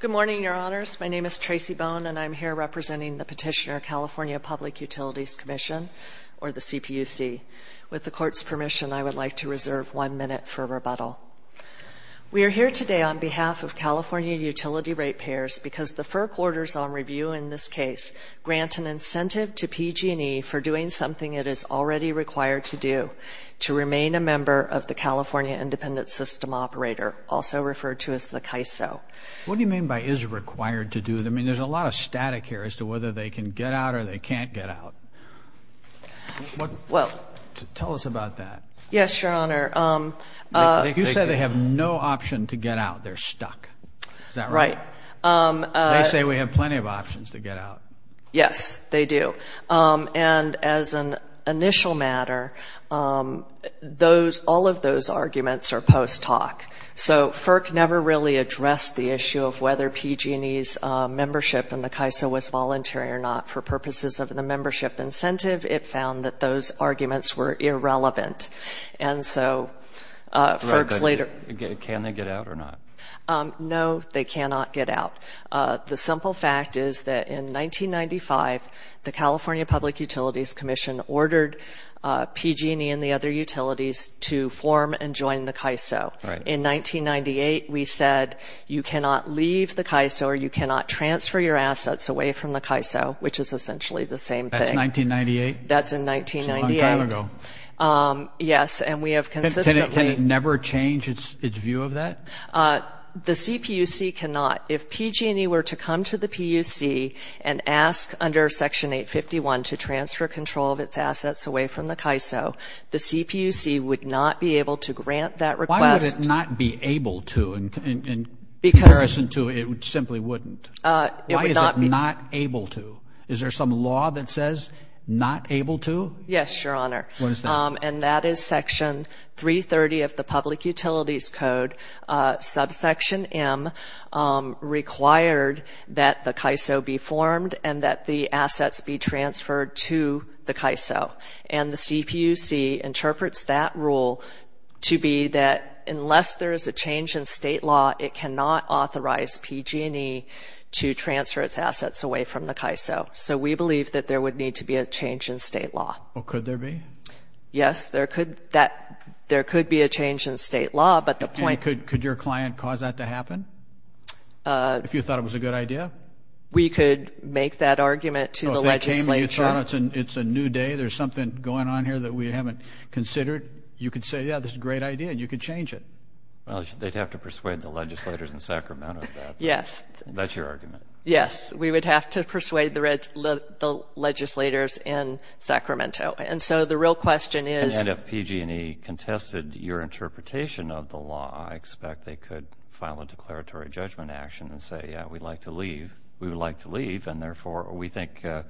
Good morning, Your Honors. My name is Tracy Bone, and I am here representing the Petitioner California Public Utilities Commission, or the CPUC. With the Court's permission, I would like to reserve one minute for rebuttal. We are here today on behalf of California Utility Ratepayers because the FERC Orders on Review in this case grant an incentive to PG&E for doing something it is already required to do, to remain a member of the California Independent System Operator, also referred to as the CAISO. What do you mean by is required to do? I mean, there's a lot of static here as to whether they can get out or they can't get out. Tell us about that. Yes, Your Honor. You said they have no option to get out. They're stuck. Is that right? Right. They say we have plenty of options to get out. Yes, they do. And as an initial matter, all of those arguments are post-talk. So FERC never really addressed the issue of whether PG&E's membership in the CAISO was voluntary or not. For purposes of the membership incentive, it found that those arguments were irrelevant. And so FERC's later Right, but can they get out or not? No, they cannot get out. The simple fact is that in 1995, the California Public Utilities Commission ordered PG&E and the other utilities to form and join the CAISO. In 1998, we said you cannot leave the CAISO or you cannot transfer your assets away from the CAISO, which is essentially the same thing. That's 1998? That's in 1998. That's a long time ago. Yes, and we have consistently Can it never change its view of that? The CPUC cannot. If PG&E were to come to the PUC and ask under Section 851 to transfer control of its assets away from the CAISO, the CPUC would not be able to grant that request. Why would it not be able to in comparison to it simply wouldn't? It would not be Why is it not able to? Is there some law that says not able to? Yes, Your Honor. What is that? And that is Section 330 of the Public Utilities Code, subsection M, required that the CAISO be formed and that the assets be transferred to the CAISO. And the CPUC interprets that rule to be that unless there is a change in state law, it cannot authorize PG&E to transfer its assets away from the CAISO. So we believe that there would need to be a change in state law. Well, could there be? Yes, there could be a change in state law, but the point And could your client cause that to happen? If you thought it was a good idea? We could make that argument to the legislature Oh, if they came and you thought it's a new day, there's something going on here that we haven't considered, you could say, yeah, this is a great idea, and you could change it. Well, they'd have to persuade the legislators in Sacramento about that. Yes That's your argument. Yes, we would have to persuade the legislators in Sacramento. And so the real question is And if PG&E contested your interpretation of the law, I expect they could file a declaratory judgment action and say, yeah, we'd like to leave. We would like to leave, and therefore we think the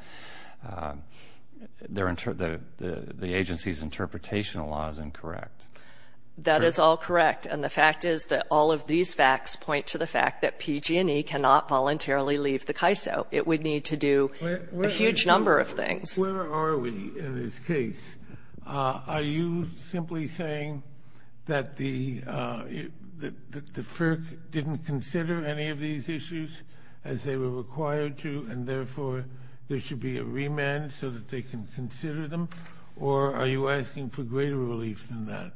agency's interpretation of the law is incorrect. That is all correct. And the fact is that all of these facts point to the fact that it would need to do a huge number of things. Where are we in this case? Are you simply saying that the FERC didn't consider any of these issues as they were required to, and therefore there should be a remand so that they can consider them? Or are you asking for greater relief than that?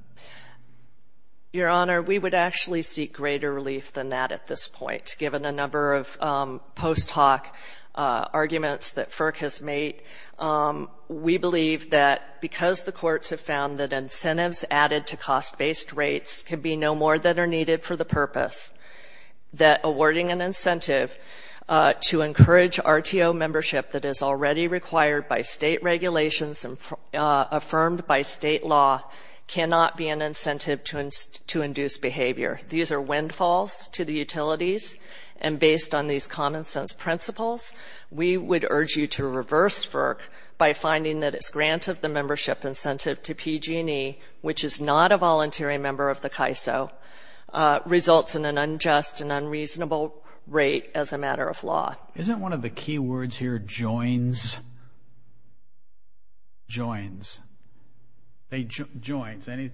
Your Honor, we would actually seek greater relief than that at this point, given a number of post hoc arguments that FERC has made. We believe that because the courts have found that incentives added to cost-based rates can be no more than are needed for the purpose, that awarding an incentive to encourage RTO membership that is already required by state regulations and affirmed by state law cannot be an incentive to induce behavior. These are windfalls to the utilities, and based on these common-sense principles, we would urge you to reverse FERC by finding that its grant of the membership incentive to PG&E, which is not a volunteering member of the CAISO, results in an unjust and unreasonable rate as a matter of law. Isn't one of the key words here joins? Joins. Joins. Any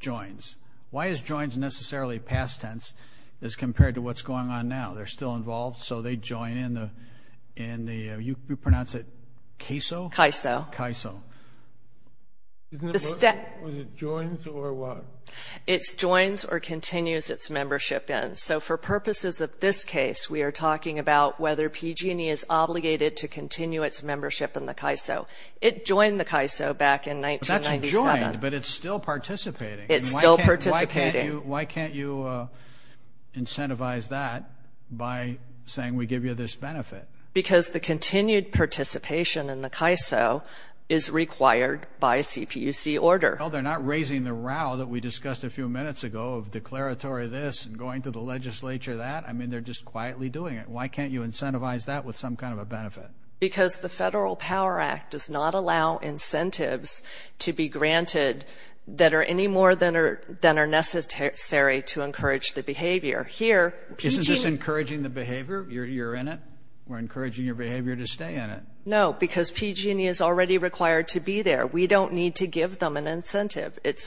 joins? Why is joins necessarily past tense as compared to what's going on now? They're still involved, so they join in the, you pronounce it CAISO? CAISO. CAISO. Wasn't it joins or what? It's joins or continues its membership in. So for purposes of this case, we are talking about whether PG&E is obligated to continue its membership in the CAISO. It joined the CAISO back in 1997. But that's joined, but it's still participating. It's still participating. Why can't you incentivize that by saying we give you this benefit? Because the continued participation in the CAISO is required by a CPUC order. No, they're not raising the row that we discussed a few minutes ago of declaratory this and going to the legislature that. I mean, they're just quietly doing it. Why can't you incentivize that with some kind of a benefit? Because the Federal Power Act does not allow incentives to be granted that are any more than are necessary to encourage the behavior. Here, PG&E... Isn't this encouraging the behavior? You're in it? We're encouraging your behavior to stay in it? No, because PG&E is already required to be there. We don't need to give them an incentive. It's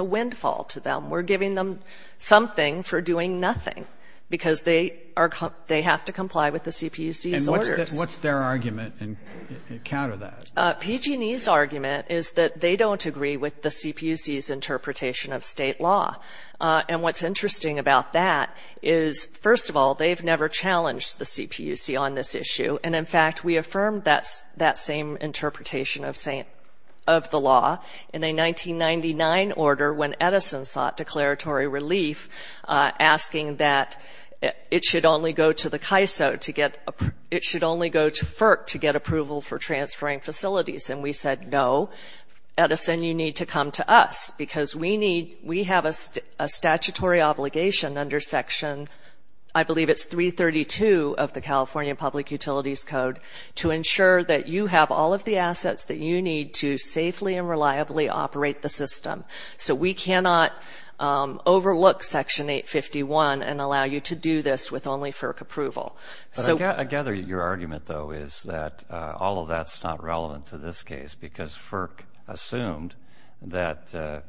a windfall to them. We're giving them something for doing nothing because they have to comply with the CPUC's orders. What's their argument and counter that? PG&E's argument is that they don't agree with the CPUC's interpretation of state law. And what's interesting about that is, first of all, they've never challenged the CPUC on this issue. And in fact, we affirmed that same interpretation of the law in a 1999 order when Edison sought declaratory relief, asking that it should only go to the CAISO to get... And we said, no, Edison, you need to come to us because we have a statutory obligation under Section, I believe it's 332 of the California Public Utilities Code to ensure that you have all of the assets that you need to safely and reliably operate the system. So we cannot overlook Section 851 and allow you to do this with only FERC approval. I gather your argument, though, is that all of that's not relevant to this case because FERC assumed that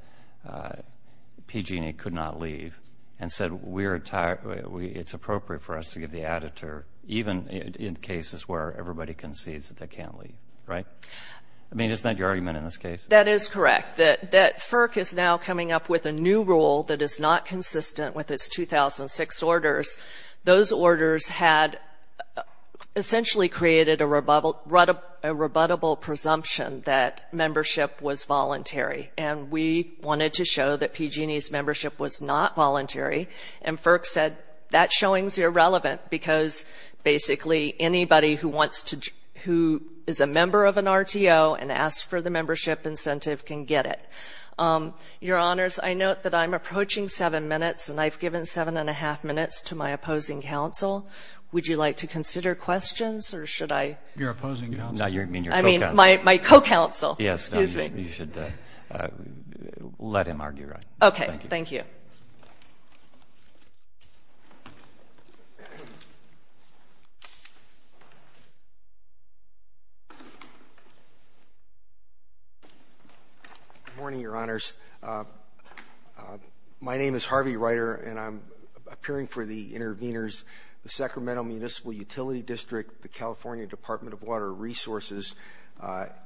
PG&E could not leave and said it's appropriate for us to give the editor, even in cases where everybody concedes that they can't leave, right? I mean, isn't that your argument in this case? That is correct, that FERC is now coming up with a new rule that is not consistent with its 2006 orders. Those orders had essentially created a rebuttable presumption that membership was voluntary and we wanted to show that PG&E's membership was not voluntary and FERC said that showing's irrelevant because basically anybody who is a member of an RTO and asks for the membership incentive can get it. Your Honors, I note that I'm approaching seven minutes and I've given seven and a half minutes to my opposing counsel. Would you like to consider questions or should I? Your opposing counsel? No, you mean your co-counsel. I mean my co-counsel. Yes, you should let him argue. Okay, thank you. Good morning, Your Honors. My name is Harvey Ryder and I'm appearing for the intervenors, the Sacramento Municipal Utility District, the California Department of Water Resources,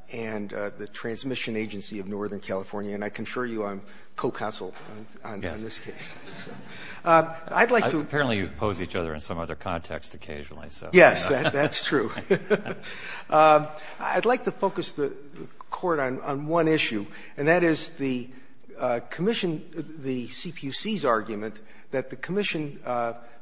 and the Transmission Agency of Northern California, and I can assure you I'm co-counsel on this case. I'd like to Apparently you oppose each other in some other context occasionally. Yes, that's true. I'd like to focus the Court on one issue, and that is the Commission, the CPUC's argument that the Commission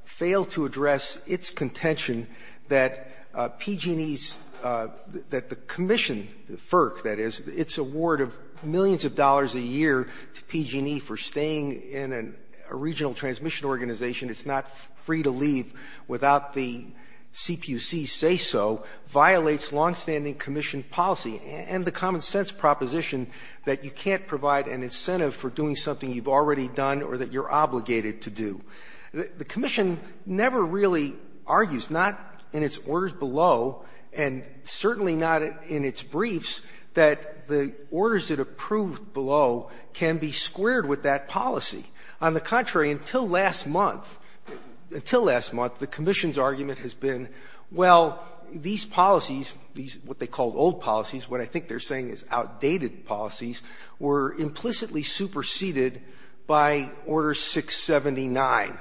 failed to address its contention that PG&E's, that the Commission, FERC that is, its award of millions of dollars a year to PG&E for staying in a regional transmission organization, it's not free to leave without the CPUC say so, violates longstanding Commission policy and the common sense proposition that you can't provide an incentive for doing something you've already done or that you're obligated to do. The Commission never really argues, not in its orders below and certainly not in its orders approved below, can be squared with that policy. On the contrary, until last month, until last month, the Commission's argument has been, well, these policies, what they call old policies, what I think they're saying is outdated policies, were implicitly superseded by Order 679.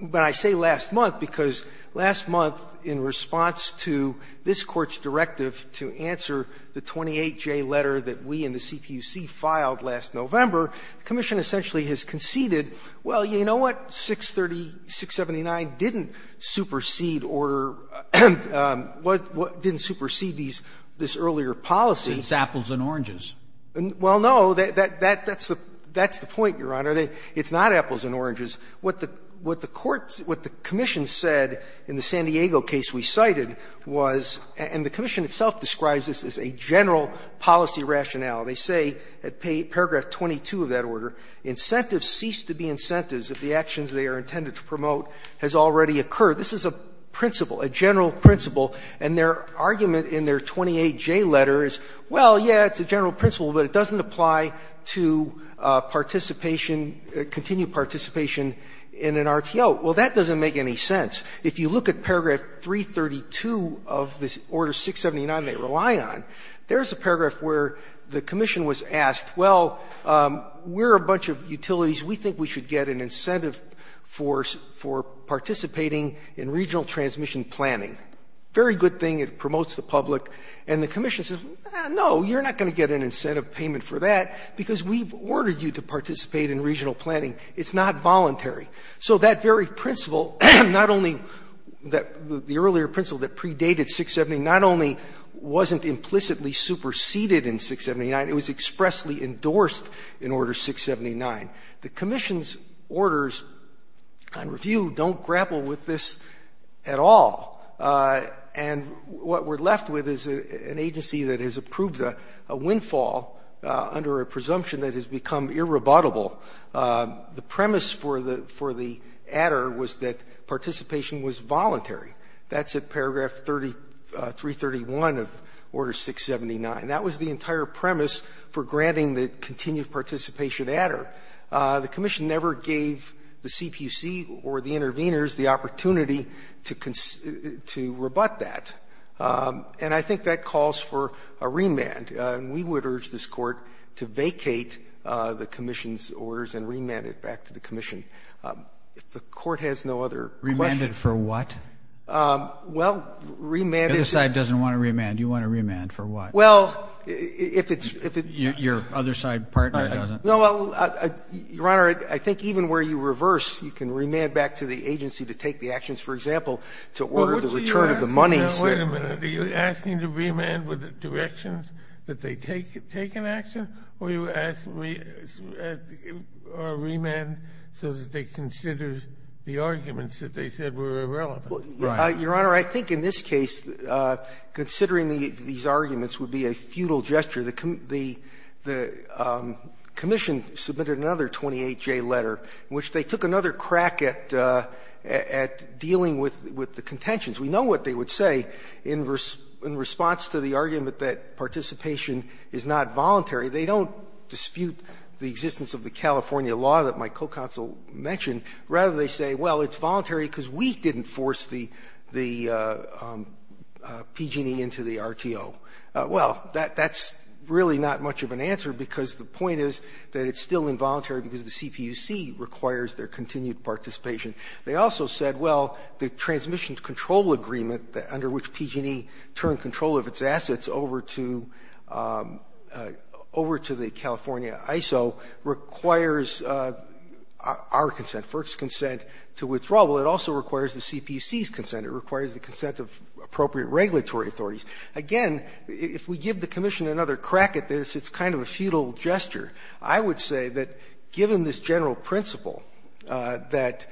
But I say last month because last month in response to this Court's directive to answer the 28J letter that we and the CPUC filed last November, the Commission essentially has conceded, well, you know what, 630 679 didn't supersede Order or didn't supersede these earlier policies. Roberts. It's apples and oranges. Well, no, that's the point, Your Honor. It's not apples and oranges. What the Court's, what the Commission said in the San Diego case we cited was, and the Commission itself describes this as a general policy rationale. They say at paragraph 22 of that order, Incentives cease to be incentives if the actions they are intended to promote has already occurred. This is a principle, a general principle. And their argument in their 28J letter is, well, yeah, it's a general principle, but it doesn't apply to participation, continued participation in an RTO. Well, that doesn't make any sense. If you look at paragraph 332 of this Order 679 they rely on, there's a paragraph where the Commission was asked, well, we're a bunch of utilities. We think we should get an incentive for participating in regional transmission planning. Very good thing. It promotes the public. And the Commission says, no, you're not going to get an incentive payment for that because we've ordered you to participate in regional planning. It's not voluntary. So that very principle, not only that the earlier principle that predated 679 not only wasn't implicitly superseded in 679, it was expressly endorsed in Order 679. The Commission's orders on review don't grapple with this at all. And what we're left with is an agency that has approved a windfall under a presumption that has become irrebuttable. The premise for the Adder was that participation was voluntary. That's at paragraph 331 of Order 679. That was the entire premise for granting the continued participation Adder. The Commission never gave the CPC or the intervenors the opportunity to rebut that. And I think that calls for a remand. And we would urge this Court to vacate the Commission's orders and remand it back to the Commission. If the Court has no other questions. Remand it for what? Well, remand it. The other side doesn't want to remand. You want to remand for what? Well, if it's — Your other side partner doesn't. No, well, Your Honor, I think even where you reverse, you can remand back to the agency to take the actions, for example, to order the return of the monies. Wait a minute. Are you asking to remand with the directions that they take an action, or are you asking to remand so that they consider the arguments that they said were irrelevant? Your Honor, I think in this case, considering these arguments would be a futile gesture. The Commission submitted another 28J letter in which they took another crack at dealing with the contentions. We know what they would say in response to the argument that participation is not voluntary. They don't dispute the existence of the California law that my co-counsel mentioned. Rather, they say, well, it's voluntary because we didn't force the PG&E into the RTO. Well, that's really not much of an answer because the point is that it's still involuntary because the CPUC requires their continued participation. They also said, well, the transmission control agreement under which PG&E turned control of its assets over to the California ISO requires our consent, FERC's consent, to withdraw. Well, it also requires the CPUC's consent. It requires the consent of appropriate regulatory authorities. Again, if we give the Commission another crack at this, it's kind of a futile gesture. I would say that given this general principle, that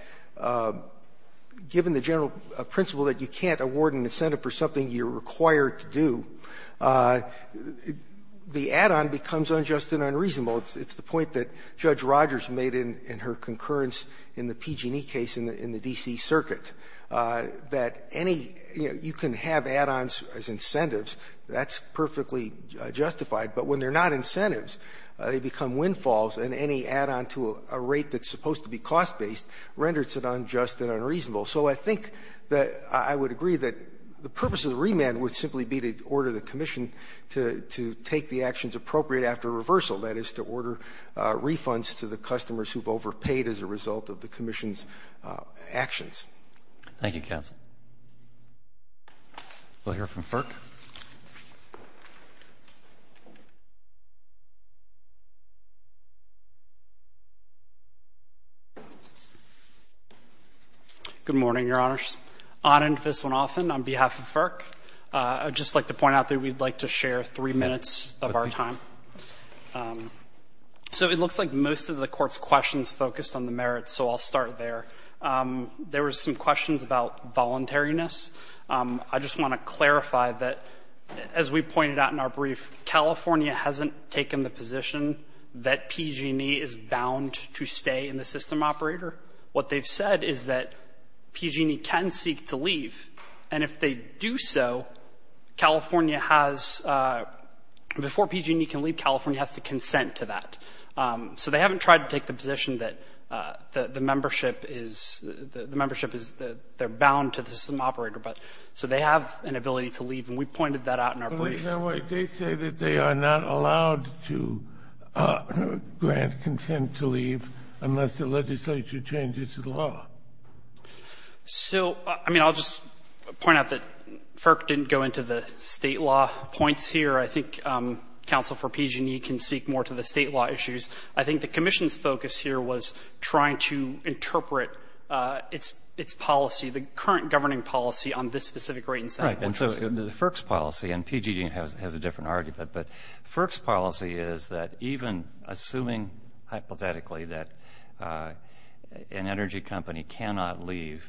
given the general principle that you can't award an incentive for something you're required to do, the add-on becomes unjust and unreasonable. It's the point that Judge Rogers made in her concurrence in the PG&E case in the D.C. circuit, that any you can have add-ons as incentives. That's perfectly justified. But when they're not incentives, they become windfalls, and any add-on to a rate that's supposed to be cost-based renders it unjust and unreasonable. So I think that I would agree that the purpose of the remand would simply be to order the Commission to take the actions appropriate after reversal. That is, to order refunds to the customers who've overpaid as a result of the Commission's actions. Thank you, counsel. We'll hear from FERC. Good morning, Your Honors. Anand Viswanathan on behalf of FERC. I'd just like to point out that we'd like to share three minutes of our time. So it looks like most of the Court's questions focused on the merits, so I'll start there. There were some questions about voluntariness. I just want to clarify that, as we pointed out in our brief, California has not taken the position that PG&E is bound to stay in the system operator. What they've said is that PG&E can seek to leave, and if they do so, California has, before PG&E can leave, California has to consent to that. So they haven't tried to take the position that the membership is, the membership is, they're bound to the system operator. So they have an ability to leave, and we pointed that out in our brief. They say that they are not allowed to grant consent to leave unless the legislature changes the law. So, I mean, I'll just point out that FERC didn't go into the State law points here. I think counsel for PG&E can speak more to the State law issues. I think the Commission's focus here was trying to interpret its policy, the current governing policy, on this specific rate incentive. Right. And so the FERC's policy, and PG&E has a different argument, but FERC's policy is that even assuming hypothetically that an energy company cannot leave,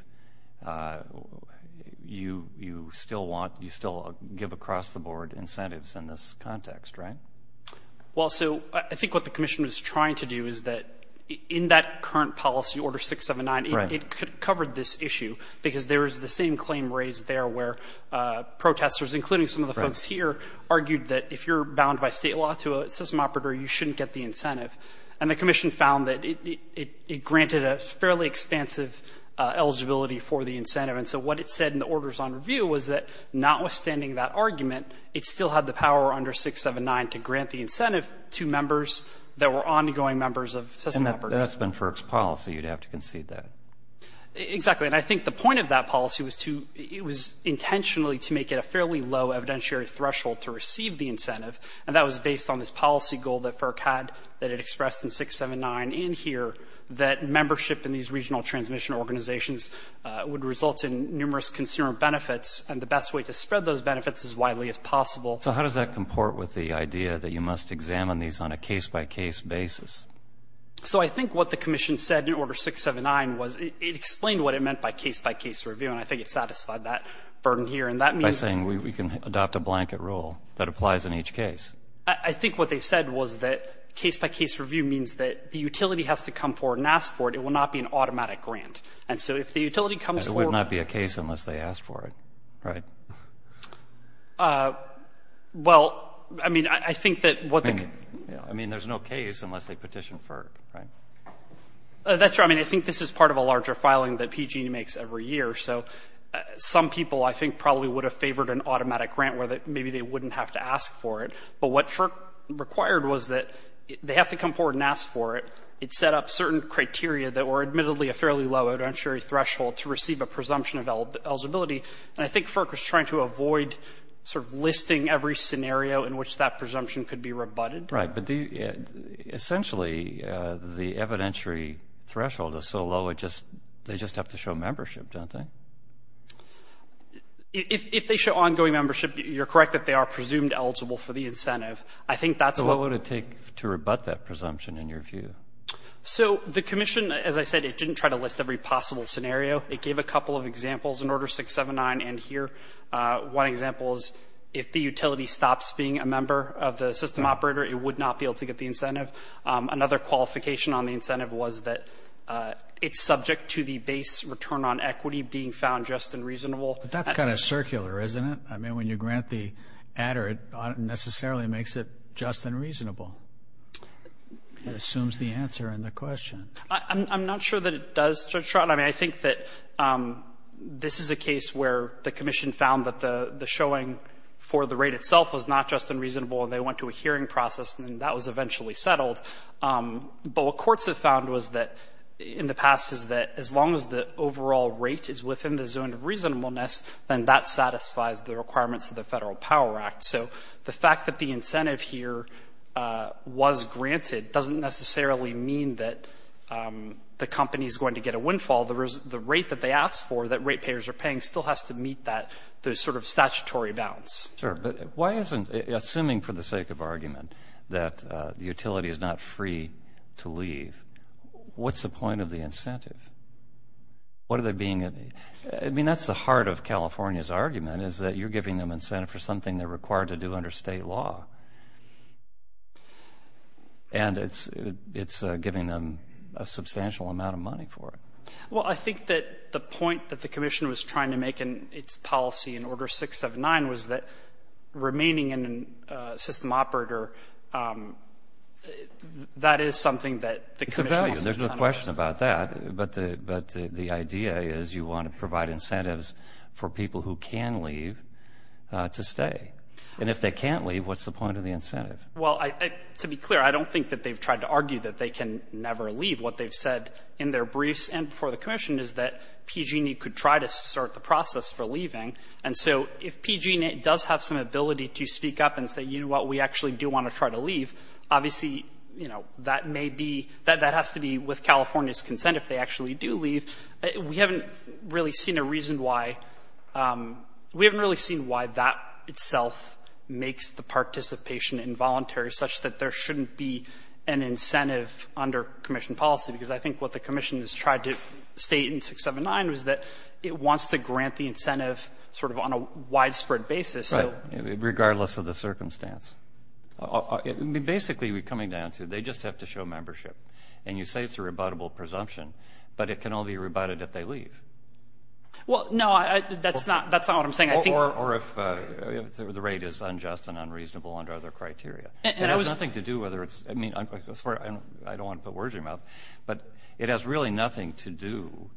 you still want, you still give across the board incentives in this context, right? Well, so I think what the Commission was trying to do is that in that current policy, Order 679, it covered this issue because there is the same claim raised there where protesters, including some of the folks here, argued that if you're bound by State law to a system operator, you shouldn't get the incentive. And the Commission found that it granted a fairly expansive eligibility for the incentive. And so what it said in the Orders on Review was that notwithstanding that argument, it still had the power under 679 to grant the incentive to members that were ongoing members of system operators. And that's been FERC's policy. You'd have to concede that. Exactly. And I think the point of that policy was to, it was intentionally to make it a fairly low evidentiary threshold to receive the incentive, and that was based on this policy goal that FERC had that it expressed in 679 and here, that membership in these regional transmission organizations would result in numerous consumer benefits, and the best way to spread those benefits as widely as possible. So how does that comport with the idea that you must examine these on a case-by-case basis? So I think what the Commission said in Order 679 was it explained what it meant by case-by-case review, and I think it satisfied that burden here. And that means... By saying we can adopt a blanket rule that applies in each case. I think what they said was that case-by-case review means that the utility has to come forward and ask for it. It will not be an automatic grant. And so if the utility comes forward... And it would not be a case unless they asked for it, right? Well, I mean, I think that what the... I mean, there's no case unless they petitioned for it, right? That's right. I mean, I think this is part of a larger filing that PG&E makes every year. So some people I think probably would have favored an automatic grant where maybe they wouldn't have to ask for it. But what FERC required was that they have to come forward and ask for it. It set up certain criteria that were admittedly a fairly low evidentiary threshold to receive a presumption of eligibility. And I think FERC was trying to avoid sort of listing every scenario in which that presumption could be rebutted. Right. Essentially, the evidentiary threshold is so low, they just have to show membership, don't they? If they show ongoing membership, you're correct that they are presumed eligible for the incentive. So what would it take to rebut that presumption in your view? So the commission, as I said, it didn't try to list every possible scenario. It gave a couple of examples in Order 679 and here. One example is if the utility stops being a member of the system operator, it would not be able to get the incentive. Another qualification on the incentive was that it's subject to the base return on equity being found just and reasonable. But that's kind of circular, isn't it? I mean, when you grant the adder, it necessarily makes it just and reasonable. It assumes the answer in the question. I'm not sure that it does, Judge Stroud. I mean, I think that this is a case where the commission found that the showing for the rate itself was not just and reasonable, and they went to a hearing process and that was eventually settled. But what courts have found in the past is that as long as the overall rate is within the zone of reasonableness, then that satisfies the requirements of the Federal Power Act. So the fact that the incentive here was granted doesn't necessarily mean that the company is going to get a windfall. The rate that they asked for that rate payers are paying still has to meet that sort of statutory balance. Sure. But why isn't, assuming for the sake of argument, that the utility is not free to leave, what's the point of the incentive? What are they being? I mean, that's the heart of California's argument is that you're giving them incentive for something they're required to do under state law. And it's giving them a substantial amount of money for it. Well, I think that the point that the commission was trying to make in its policy in Order 679 was that remaining in a system operator, that is something that the commission wants to incentivize. It's a value. There's no question about that. But the idea is you want to provide incentives for people who can leave to stay. And if they can't leave, what's the point of the incentive? Well, to be clear, I don't think that they've tried to argue that they can never leave. What they've said in their briefs and before the commission is that PG&E could try to start the process for leaving. And so if PG&E does have some ability to speak up and say, you know what, we actually do want to try to leave, obviously, you know, that may be — that has to be with California's consent if they actually do leave. We haven't really seen a reason why — we haven't really seen why that itself makes the participation involuntary such that there shouldn't be an incentive under commission policy. Because I think what the commission has tried to state in 679 was that it wants to grant the incentive sort of on a widespread basis. Right. Regardless of the circumstance. I mean, basically, we're coming down to they just have to show membership. And you say it's a rebuttable presumption, but it can only be rebutted if they leave. Well, no, that's not what I'm saying. Or if the rate is unjust and unreasonable under other criteria. And it has nothing to do whether it's — I mean, I'm sorry, I don't want to put words in your mouth, but it has really nothing to do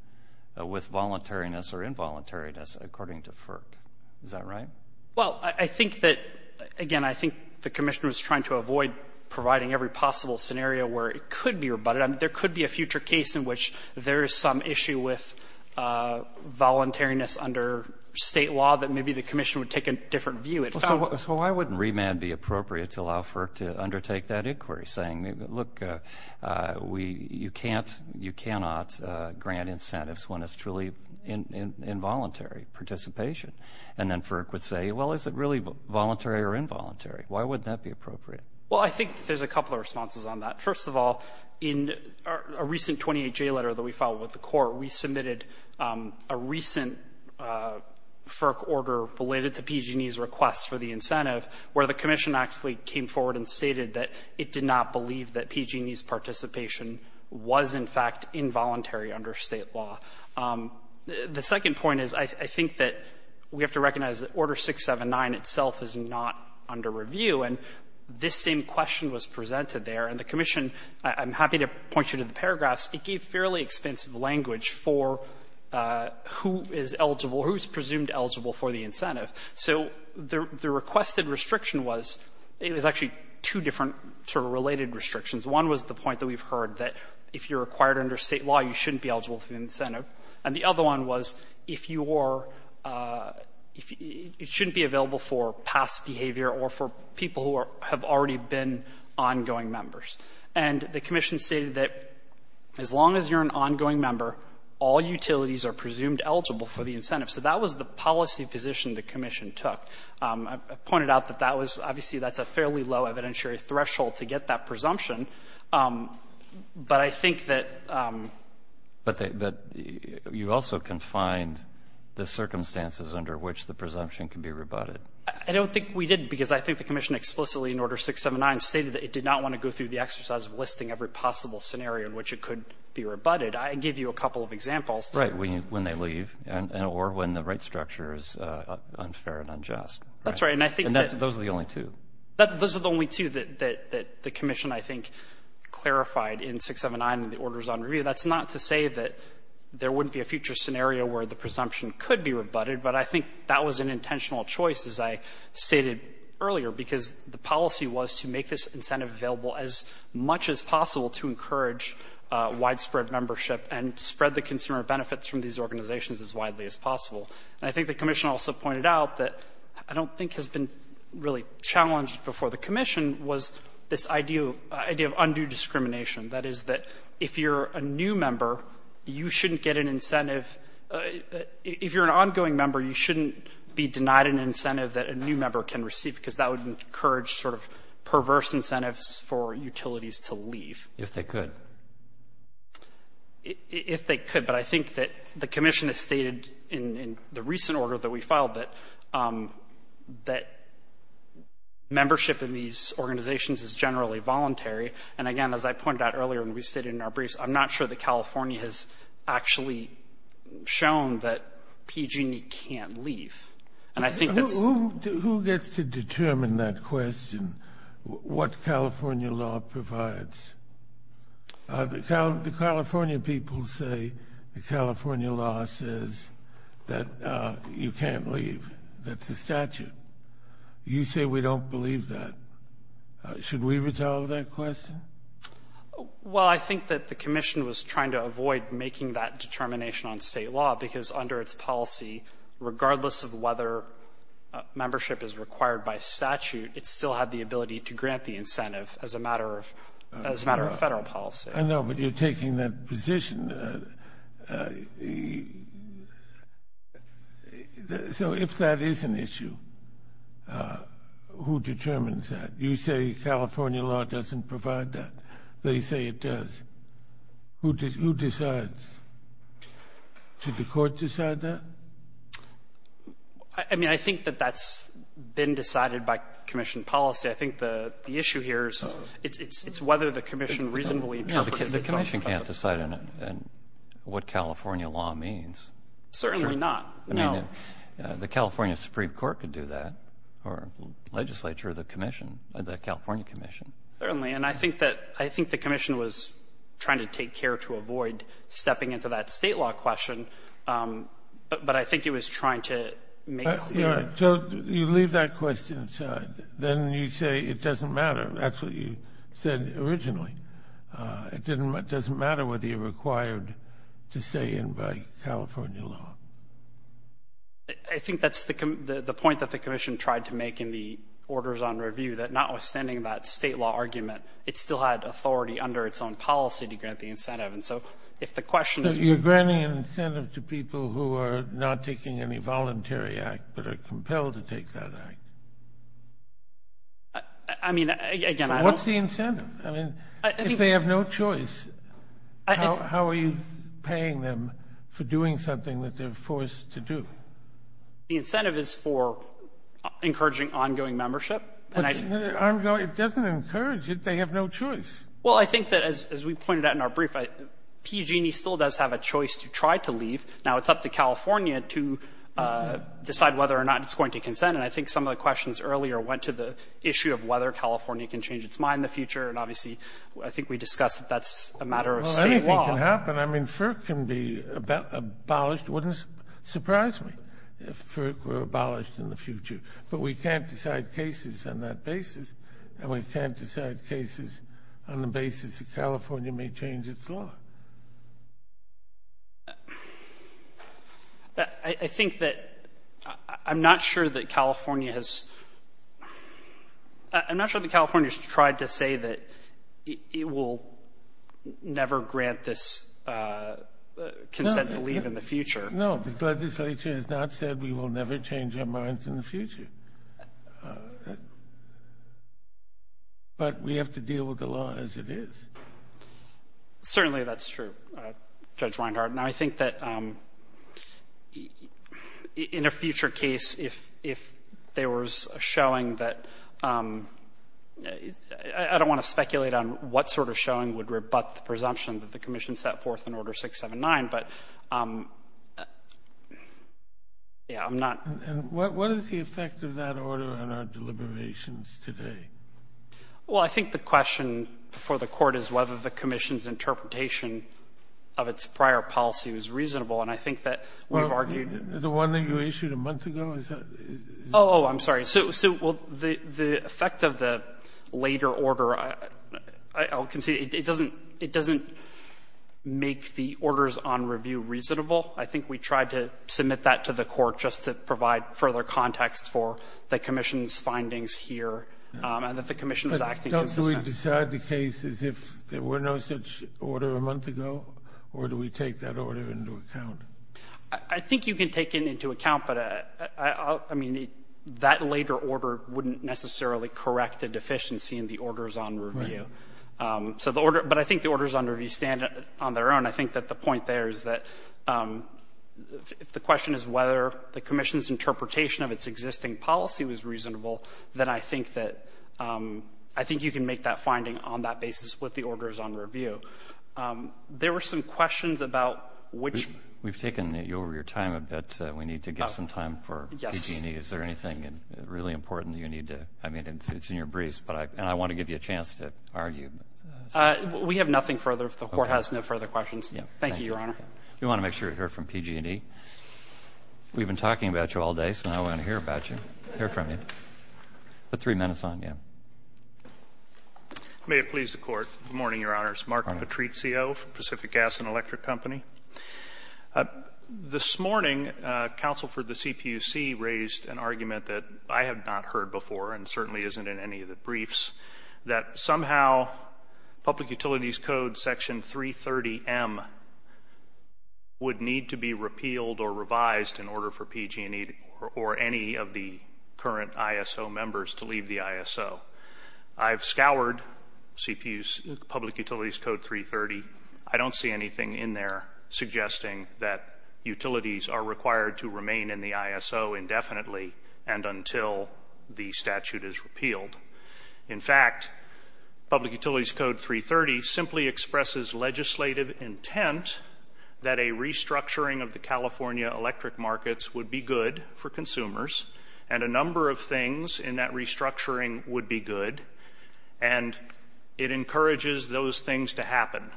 with voluntariness or involuntariness, according to FERC. Is that right? Well, I think that — again, I think the commission was trying to avoid providing every possible scenario where it could be rebutted. I mean, there could be a future case in which there is some issue with voluntariness under state law that maybe the commission would take a different view. So why wouldn't remand be appropriate to allow FERC to undertake that inquiry? Saying, look, you cannot grant incentives when it's truly involuntary participation. And then FERC would say, well, is it really voluntary or involuntary? Why wouldn't that be appropriate? Well, I think there's a couple of responses on that. First of all, in a recent 28-J letter that we filed with the court, we submitted a recent FERC order related to PG&E's request for the incentive, where the commission actually came forward and stated that it did not believe that PG&E's participation was, in fact, involuntary under state law. The second point is I think that we have to recognize that Order 679 itself is not under review, and this same question was presented there. And the commission — I'm happy to point you to the paragraphs. It gave fairly expensive language for who is eligible, who is presumed eligible for the incentive. So the requested restriction was — it was actually two different sort of related restrictions. One was the point that we've heard, that if you're required under state law, you shouldn't be eligible for the incentive. And the other one was if you are — it shouldn't be available for past behavior or for people who have already been ongoing members. And the commission stated that as long as you're an ongoing member, all utilities are presumed eligible for the incentive. So that was the policy position the commission took. I pointed out that that was — obviously, that's a fairly low evidentiary threshold to get that presumption. But I think that — But you also confined the circumstances under which the presumption can be rebutted. I don't think we did, because I think the commission explicitly in Order 679 stated that it did not want to go through the exercise of listing every possible scenario in which it could be rebutted. I can give you a couple of examples. Right. When they leave or when the right structure is unfair and unjust. That's right. And I think that — And those are the only two. Those are the only two that the commission, I think, clarified in 679 in the Orders on Review. That's not to say that there wouldn't be a future scenario where the presumption could be rebutted. But I think that was an intentional choice, as I stated earlier, because the policy was to make this incentive available as much as possible to encourage widespread membership and spread the consumer benefits from these organizations as widely as possible. And I think the commission also pointed out that I don't think has been really challenged before. The commission was this idea of undue discrimination. That is, that if you're a new member, you shouldn't get an incentive — if you're an ongoing member, you shouldn't be denied an incentive that a new member can receive, because that would encourage sort of perverse incentives for utilities to leave. If they could. If they could. But I think that the commission has stated in the recent order that we filed that membership in these organizations is generally voluntary. And again, as I pointed out earlier when we stated in our briefs, I'm not sure that California has actually shown that PG&E can't leave. And I think that's — Who gets to determine that question, what California law provides? The California people say the California law says that you can't leave. That's the statute. You say we don't believe that. Should we resolve that question? Well, I think that the commission was trying to avoid making that determination on state law, because under its policy, regardless of whether membership is required by statute, it still had the ability to grant the incentive as a matter of federal policy. I know, but you're taking that position. So if that is an issue, who determines that? You say California law doesn't provide that. They say it does. Who decides? Should the court decide that? I mean, I think that that's been decided by commission policy. I think the issue here is it's whether the commission reasonably interprets it. The commission can't decide on what California law means. Certainly not. I mean, the California Supreme Court could do that, or legislature, the commission, the California commission. Certainly, and I think the commission was trying to take care to avoid stepping into that state law question, but I think it was trying to make clear. All right. So you leave that question aside. Then you say it doesn't matter. That's what you said originally. It doesn't matter whether you're required to stay in by California law. I think that's the point that the commission tried to make in the orders on review, that notwithstanding that state law argument, it still had authority under its own policy to grant the incentive. And so if the question is you're granting an incentive to people who are not taking any voluntary act but are compelled to take that act. I mean, again, I don't. What's the incentive? I mean, if they have no choice, how are you paying them for doing something that they're forced to do? The incentive is for encouraging ongoing membership. But ongoing, it doesn't encourage it. They have no choice. Well, I think that as we pointed out in our brief, PG&E still does have a choice to try to leave. Now it's up to California to decide whether or not it's going to consent. And I think some of the questions earlier went to the issue of whether California can change its mind in the future. And obviously, I think we discussed that that's a matter of state law. Well, anything can happen. I mean, FERC can be abolished. It wouldn't surprise me if FERC were abolished in the future. But we can't decide cases on that basis, and we can't decide cases on the basis that California may change its law. I think that I'm not sure that California has tried to say that it will never grant No, the legislature has not said we will never change our minds in the future. But we have to deal with the law as it is. Certainly, that's true, Judge Weinhart. And I think that in a future case, if there was a showing that – I don't want to speculate on what sort of showing would rebut the presumption that the commission set forth in Order 679, but yeah, I'm not – And what is the effect of that order on our deliberations today? Well, I think the question before the Court is whether the commission's interpretation of its prior policy was reasonable. And I think that we've argued – The one that you issued a month ago? Oh, I'm sorry. So the effect of the later order, I'll concede, it doesn't make the orders on review reasonable. I think we tried to submit that to the Court just to provide further context for the commission's findings here and that the commission was acting consistently. But don't we decide the case as if there were no such order a month ago, or do we take that order into account? I think you can take it into account, but I mean, that later order wouldn't necessarily correct a deficiency in the orders on review. Right. So the order – but I think the orders on review stand on their own. I think that the point there is that if the question is whether the commission's interpretation of its existing policy was reasonable, then I think that – I think you can make that finding on that basis with the orders on review. There were some questions about which – We've taken over your time a bit. We need to give some time for PG&E. Is there anything really important that you need to – I mean, it's in your briefs, and I want to give you a chance to argue. We have nothing further. The Court has no further questions. Thank you, Your Honor. We want to make sure we hear from PG&E. We've been talking about you all day, so now we want to hear about you, hear from you. Put three minutes on, yeah. May it please the Court. Good morning, Your Honors. Mark Patrizio, Pacific Gas and Electric Company. This morning, counsel for the CPUC raised an argument that I have not heard before and certainly isn't in any of the briefs, that somehow Public Utilities Code Section 330M would need to be repealed or revised in order for PG&E or any of the current ISO members to leave the ISO. I've scoured Public Utilities Code 330. I don't see anything in there suggesting that utilities are required to remain in the ISO indefinitely and until the statute is repealed. In fact, Public Utilities Code 330 simply expresses legislative intent that a restructuring of the California electric markets would be good for consumers, and a number of things in that restructuring would be good, and it encourages those things to happen,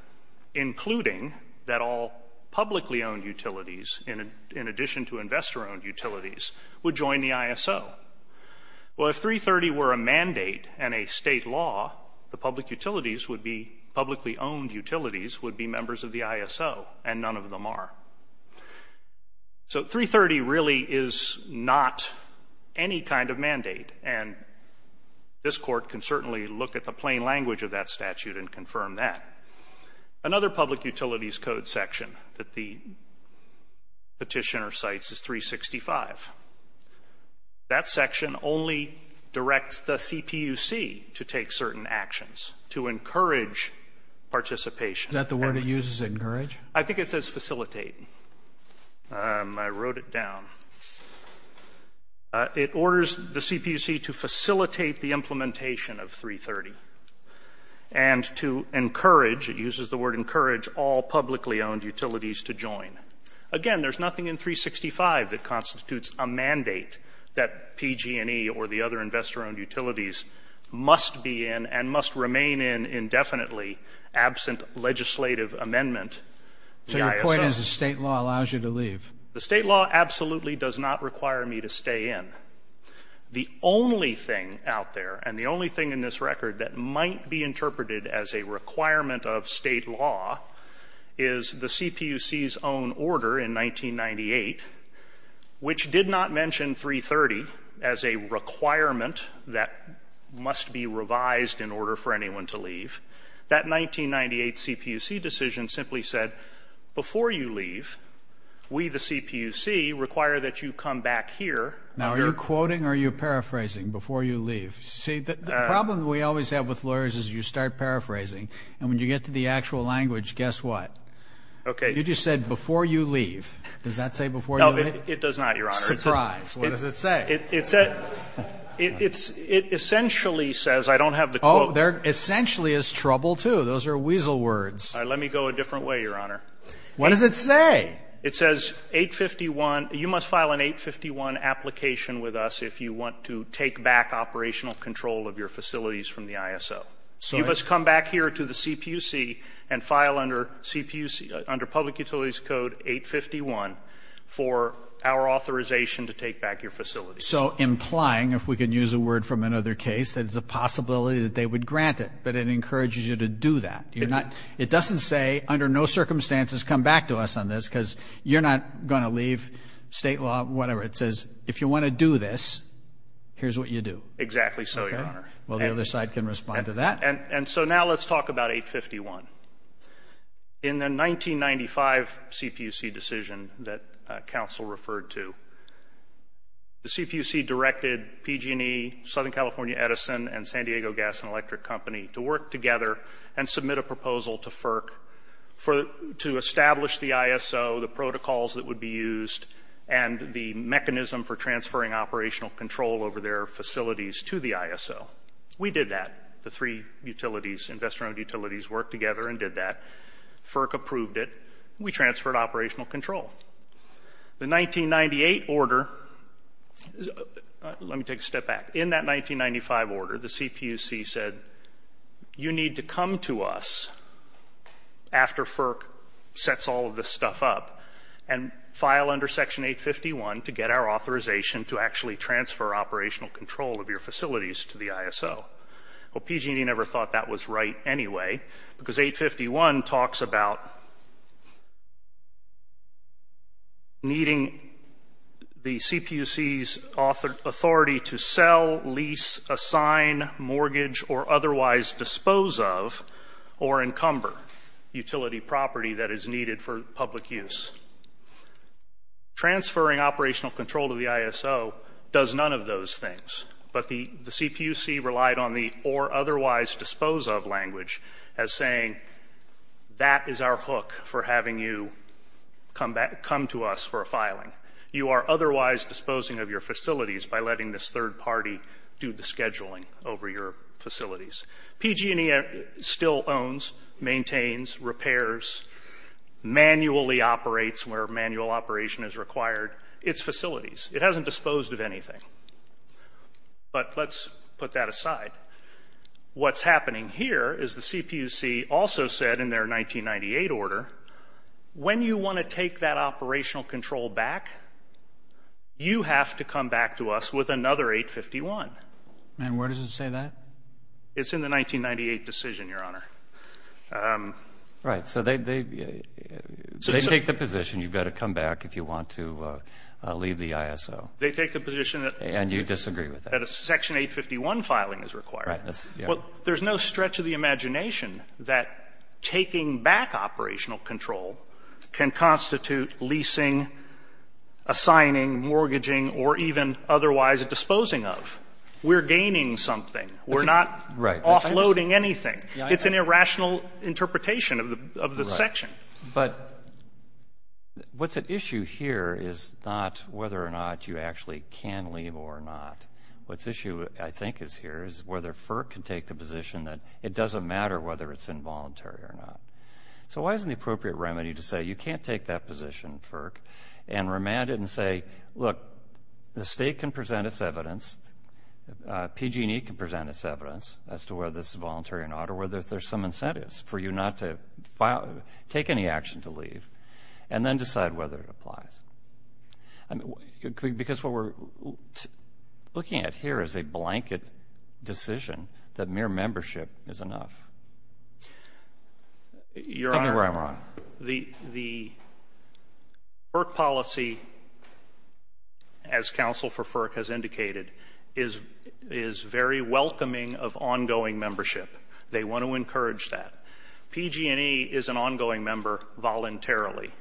including that all publicly-owned utilities, in addition to investor-owned utilities, would join the ISO. Well, if 330 were a mandate and a state law, the publicly-owned utilities would be members of the ISO, and none of them are. So 330 really is not any kind of mandate, and this Court can certainly look at the plain language of that statute and confirm that. Another Public Utilities Code section that the petitioner cites is 365. That section only directs the CPUC to take certain actions, to encourage participation. Is that the word it uses, encourage? I think it says facilitate. I wrote it down. It orders the CPUC to facilitate the implementation of 330 and to encourage, it uses the word encourage, all publicly-owned utilities to join. Again, there's nothing in 365 that constitutes a mandate that PG&E or the other investor-owned utilities must be in and must remain in indefinitely absent legislative amendment. So your point is the state law allows you to leave. The state law absolutely does not require me to stay in. The only thing out there and the only thing in this record that might be interpreted as a requirement of state law is the CPUC's own order in 1998, which did not mention 330 as a requirement that must be revised in order for anyone to leave. That 1998 CPUC decision simply said, before you leave, we, the CPUC, require that you come back here. Now, are you quoting or are you paraphrasing, before you leave? See, the problem we always have with lawyers is you start paraphrasing, and when you get to the actual language, guess what? Okay. You just said, before you leave. Does that say before you leave? No, it does not, Your Honor. Surprise. What does it say? It essentially says, I don't have the quote. Oh, there essentially is trouble, too. Those are weasel words. All right, let me go a different way, Your Honor. What does it say? It says 851, you must file an 851 application with us if you want to take back operational control of your facilities from the ISO. You must come back here to the CPUC and file under public utilities code 851 for our authorization to take back your facilities. So implying, if we can use a word from another case, that it's a possibility that they would grant it, but it encourages you to do that. It doesn't say, under no circumstances, come back to us on this, because you're not going to leave state law, whatever. It says, if you want to do this, here's what you do. Exactly so, Your Honor. Well, the other side can respond to that. And so now let's talk about 851. In the 1995 CPUC decision that counsel referred to, the CPUC directed PG&E, Southern California Edison, and San Diego Gas and Electric Company to work together and submit a proposal to FERC to establish the ISO, the protocols that would be used, and the mechanism for transferring operational control over their facilities to the ISO. We did that. The three utilities, investor-owned utilities, worked together and did that. FERC approved it. We transferred operational control. The 1998 order, let me take a step back. In that 1995 order, the CPUC said, you need to come to us after FERC sets all of this stuff up and file under Section 851 to get our authorization to actually transfer operational control of your facilities to the ISO. Well, PG&E never thought that was right anyway, because 851 talks about needing the CPUC's authority to sell, lease, assign, mortgage, or otherwise dispose of or encumber utility property that is needed for public use. Transferring operational control to the ISO does none of those things, but the CPUC relied on the or otherwise dispose of language as saying, that is our hook for having you come to us for a filing. You are otherwise disposing of your facilities by letting this third party do the scheduling over your facilities. PG&E still owns, maintains, repairs, manually operates where manual operation is required its facilities. It hasn't disposed of anything. But let's put that aside. What's happening here is the CPUC also said in their 1998 order, when you want to take that operational control back, you have to come back to us with another 851. And where does it say that? It's in the 1998 decision, Your Honor. Right, so they take the position you've got to come back if you want to leave the ISO. They take the position that a Section 851 filing is required. Well, there's no stretch of the imagination that taking back operational control can constitute leasing, assigning, mortgaging, or even otherwise disposing of. We're gaining something. We're not offloading anything. It's an irrational interpretation of the section. But what's at issue here is not whether or not you actually can leave or not. What's at issue, I think, is here is whether FERC can take the position that it doesn't matter whether it's involuntary or not. So why isn't the appropriate remedy to say you can't take that position, FERC, and remand it and say, look, the State can present its evidence, PG&E can present its evidence, as to whether this is voluntary or not, or whether there's some incentives for you not to take any action to leave, and then decide whether it applies. Because what we're looking at here is a blanket decision that mere membership is enough. Take me where I'm wrong. Your Honor, the FERC policy, as counsel for FERC has indicated, is very welcoming of ongoing membership. They want to encourage that. PG&E is an ongoing member voluntarily.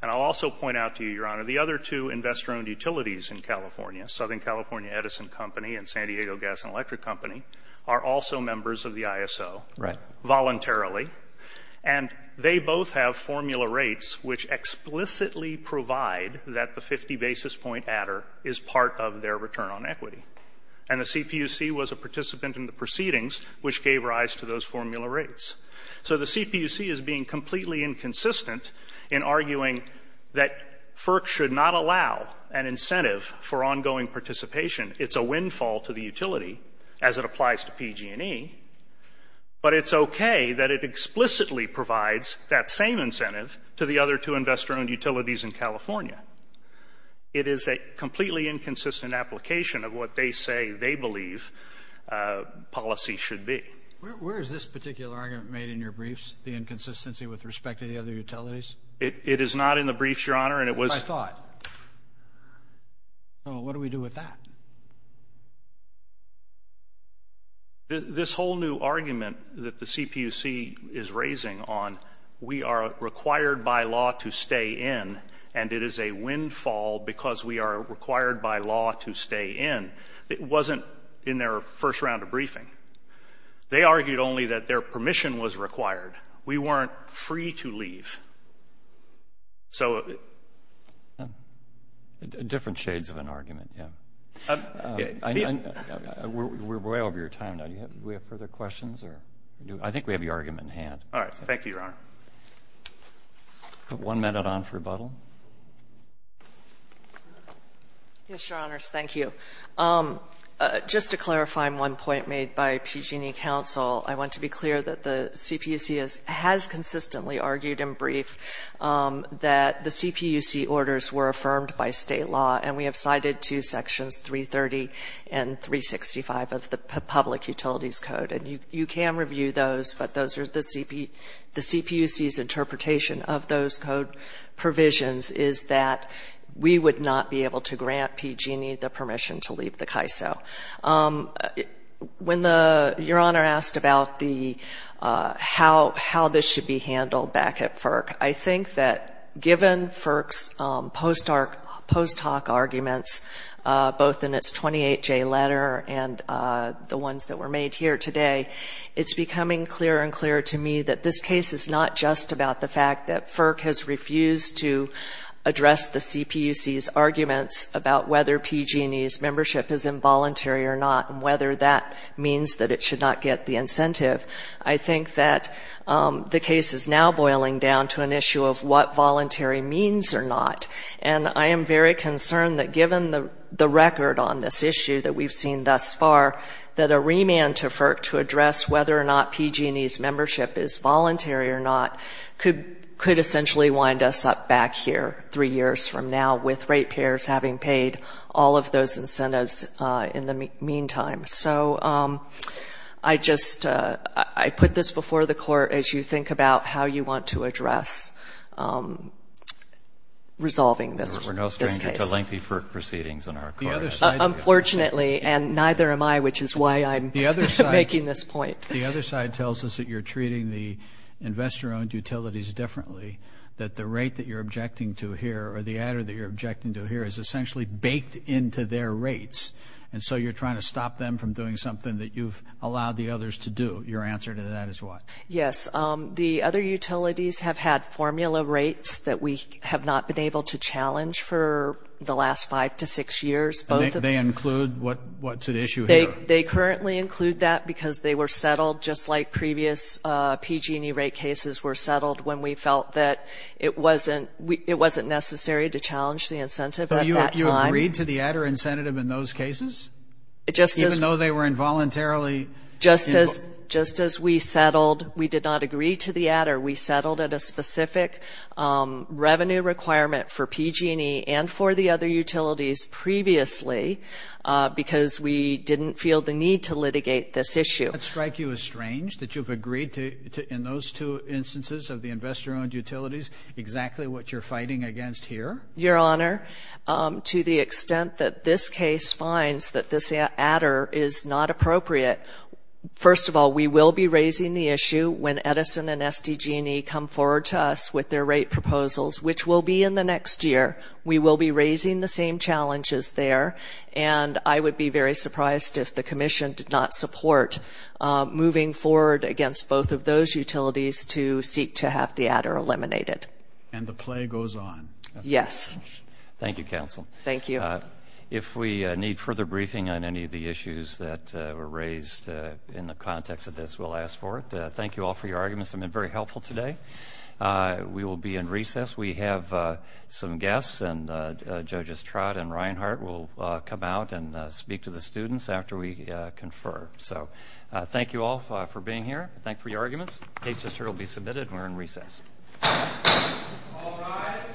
And I'll also point out to you, Your Honor, the other two investor-owned utilities in California, Southern California Edison Company and San Diego Gas and Electric Company, are also members of the ISO voluntarily. And they both have formula rates which explicitly provide that the 50 basis point adder is part of their return on equity. And the CPUC was a participant in the proceedings which gave rise to those formula rates. So the CPUC is being completely inconsistent in arguing that FERC should not allow an incentive for ongoing participation. It's a windfall to the utility as it applies to PG&E. But it's okay that it explicitly provides that same incentive to the other two investor-owned utilities in California. It is a completely inconsistent application of what they say they believe policy should be. Where is this particular argument made in your briefs, the inconsistency with respect to the other utilities? It is not in the briefs, Your Honor. I thought. What do we do with that? This whole new argument that the CPUC is raising on we are required by law to stay in and it is a windfall because we are required by law to stay in, it wasn't in their first round of briefing. They argued only that their permission was required. We weren't free to leave. So. Different shades of an argument, yeah. We're way over your time now. Do we have further questions? I think we have your argument in hand. All right. Thank you, Your Honor. One minute on for rebuttal. Yes, Your Honors. Thank you. Just to clarify one point made by PG&E counsel, I want to be clear that the CPUC has consistently argued in brief that the CPUC orders were affirmed by state law and we have cited two sections, 330 and 365 of the public utilities code. And you can review those, but those are the CPUC's interpretation of those code provisions is that we would not be able to grant PG&E the permission to leave the CAISO. When Your Honor asked about how this should be handled back at FERC, I think that given FERC's post hoc arguments, both in its 28J letter and the ones that were made here today, it's becoming clearer and clearer to me that this case is not just about the fact that FERC has refused to address the CPUC's arguments about whether PG&E's membership is involuntary or not and whether that means that it should not get the incentive. I think that the case is now boiling down to an issue of what voluntary means or not. And I am very concerned that given the record on this issue that we've seen thus far, that a remand to FERC to address whether or not PG&E's membership is voluntary or not could essentially wind us up back here three years from now with rate payers having paid all of those incentives in the meantime. So I just put this before the Court as you think about how you want to address resolving this case. Unfortunately, and neither am I, which is why I'm making this point. The other side tells us that you're treating the investor-owned utilities differently, that the rate that you're objecting to here or the adder that you're objecting to here is essentially baked into their rates, and so you're trying to stop them from doing something that you've allowed the others to do. Your answer to that is what? Yes. The other utilities have had formula rates that we have not been able to challenge for the last five to six years. They include what's at issue here? They currently include that because they were settled just like previous PG&E rate cases were settled when we felt that it wasn't necessary to challenge the incentive at that time. So you agreed to the adder incentive in those cases, even though they were involuntarily? Just as we settled, we did not agree to the adder. We settled at a specific revenue requirement for PG&E and for the other utilities previously because we didn't feel the need to litigate this issue. Does that strike you as strange that you've agreed in those two instances of the investor-owned utilities exactly what you're fighting against here? Your Honor, to the extent that this case finds that this adder is not appropriate, first of all, we will be raising the issue when Edison and SDG&E come forward to us with their rate proposals, which will be in the next year. We will be raising the same challenges there, and I would be very surprised if the Commission did not support moving forward against both of those utilities to seek to have the adder eliminated. And the play goes on. Yes. Thank you, Counsel. Thank you. If we need further briefing on any of the issues that were raised in the context of this, we'll ask for it. Thank you all for your arguments. They've been very helpful today. We will be in recess. We have some guests, and Judges Trott and Reinhart will come out and speak to the students after we confer. So thank you all for being here. The case just heard will be submitted, and we're in recess. All rise.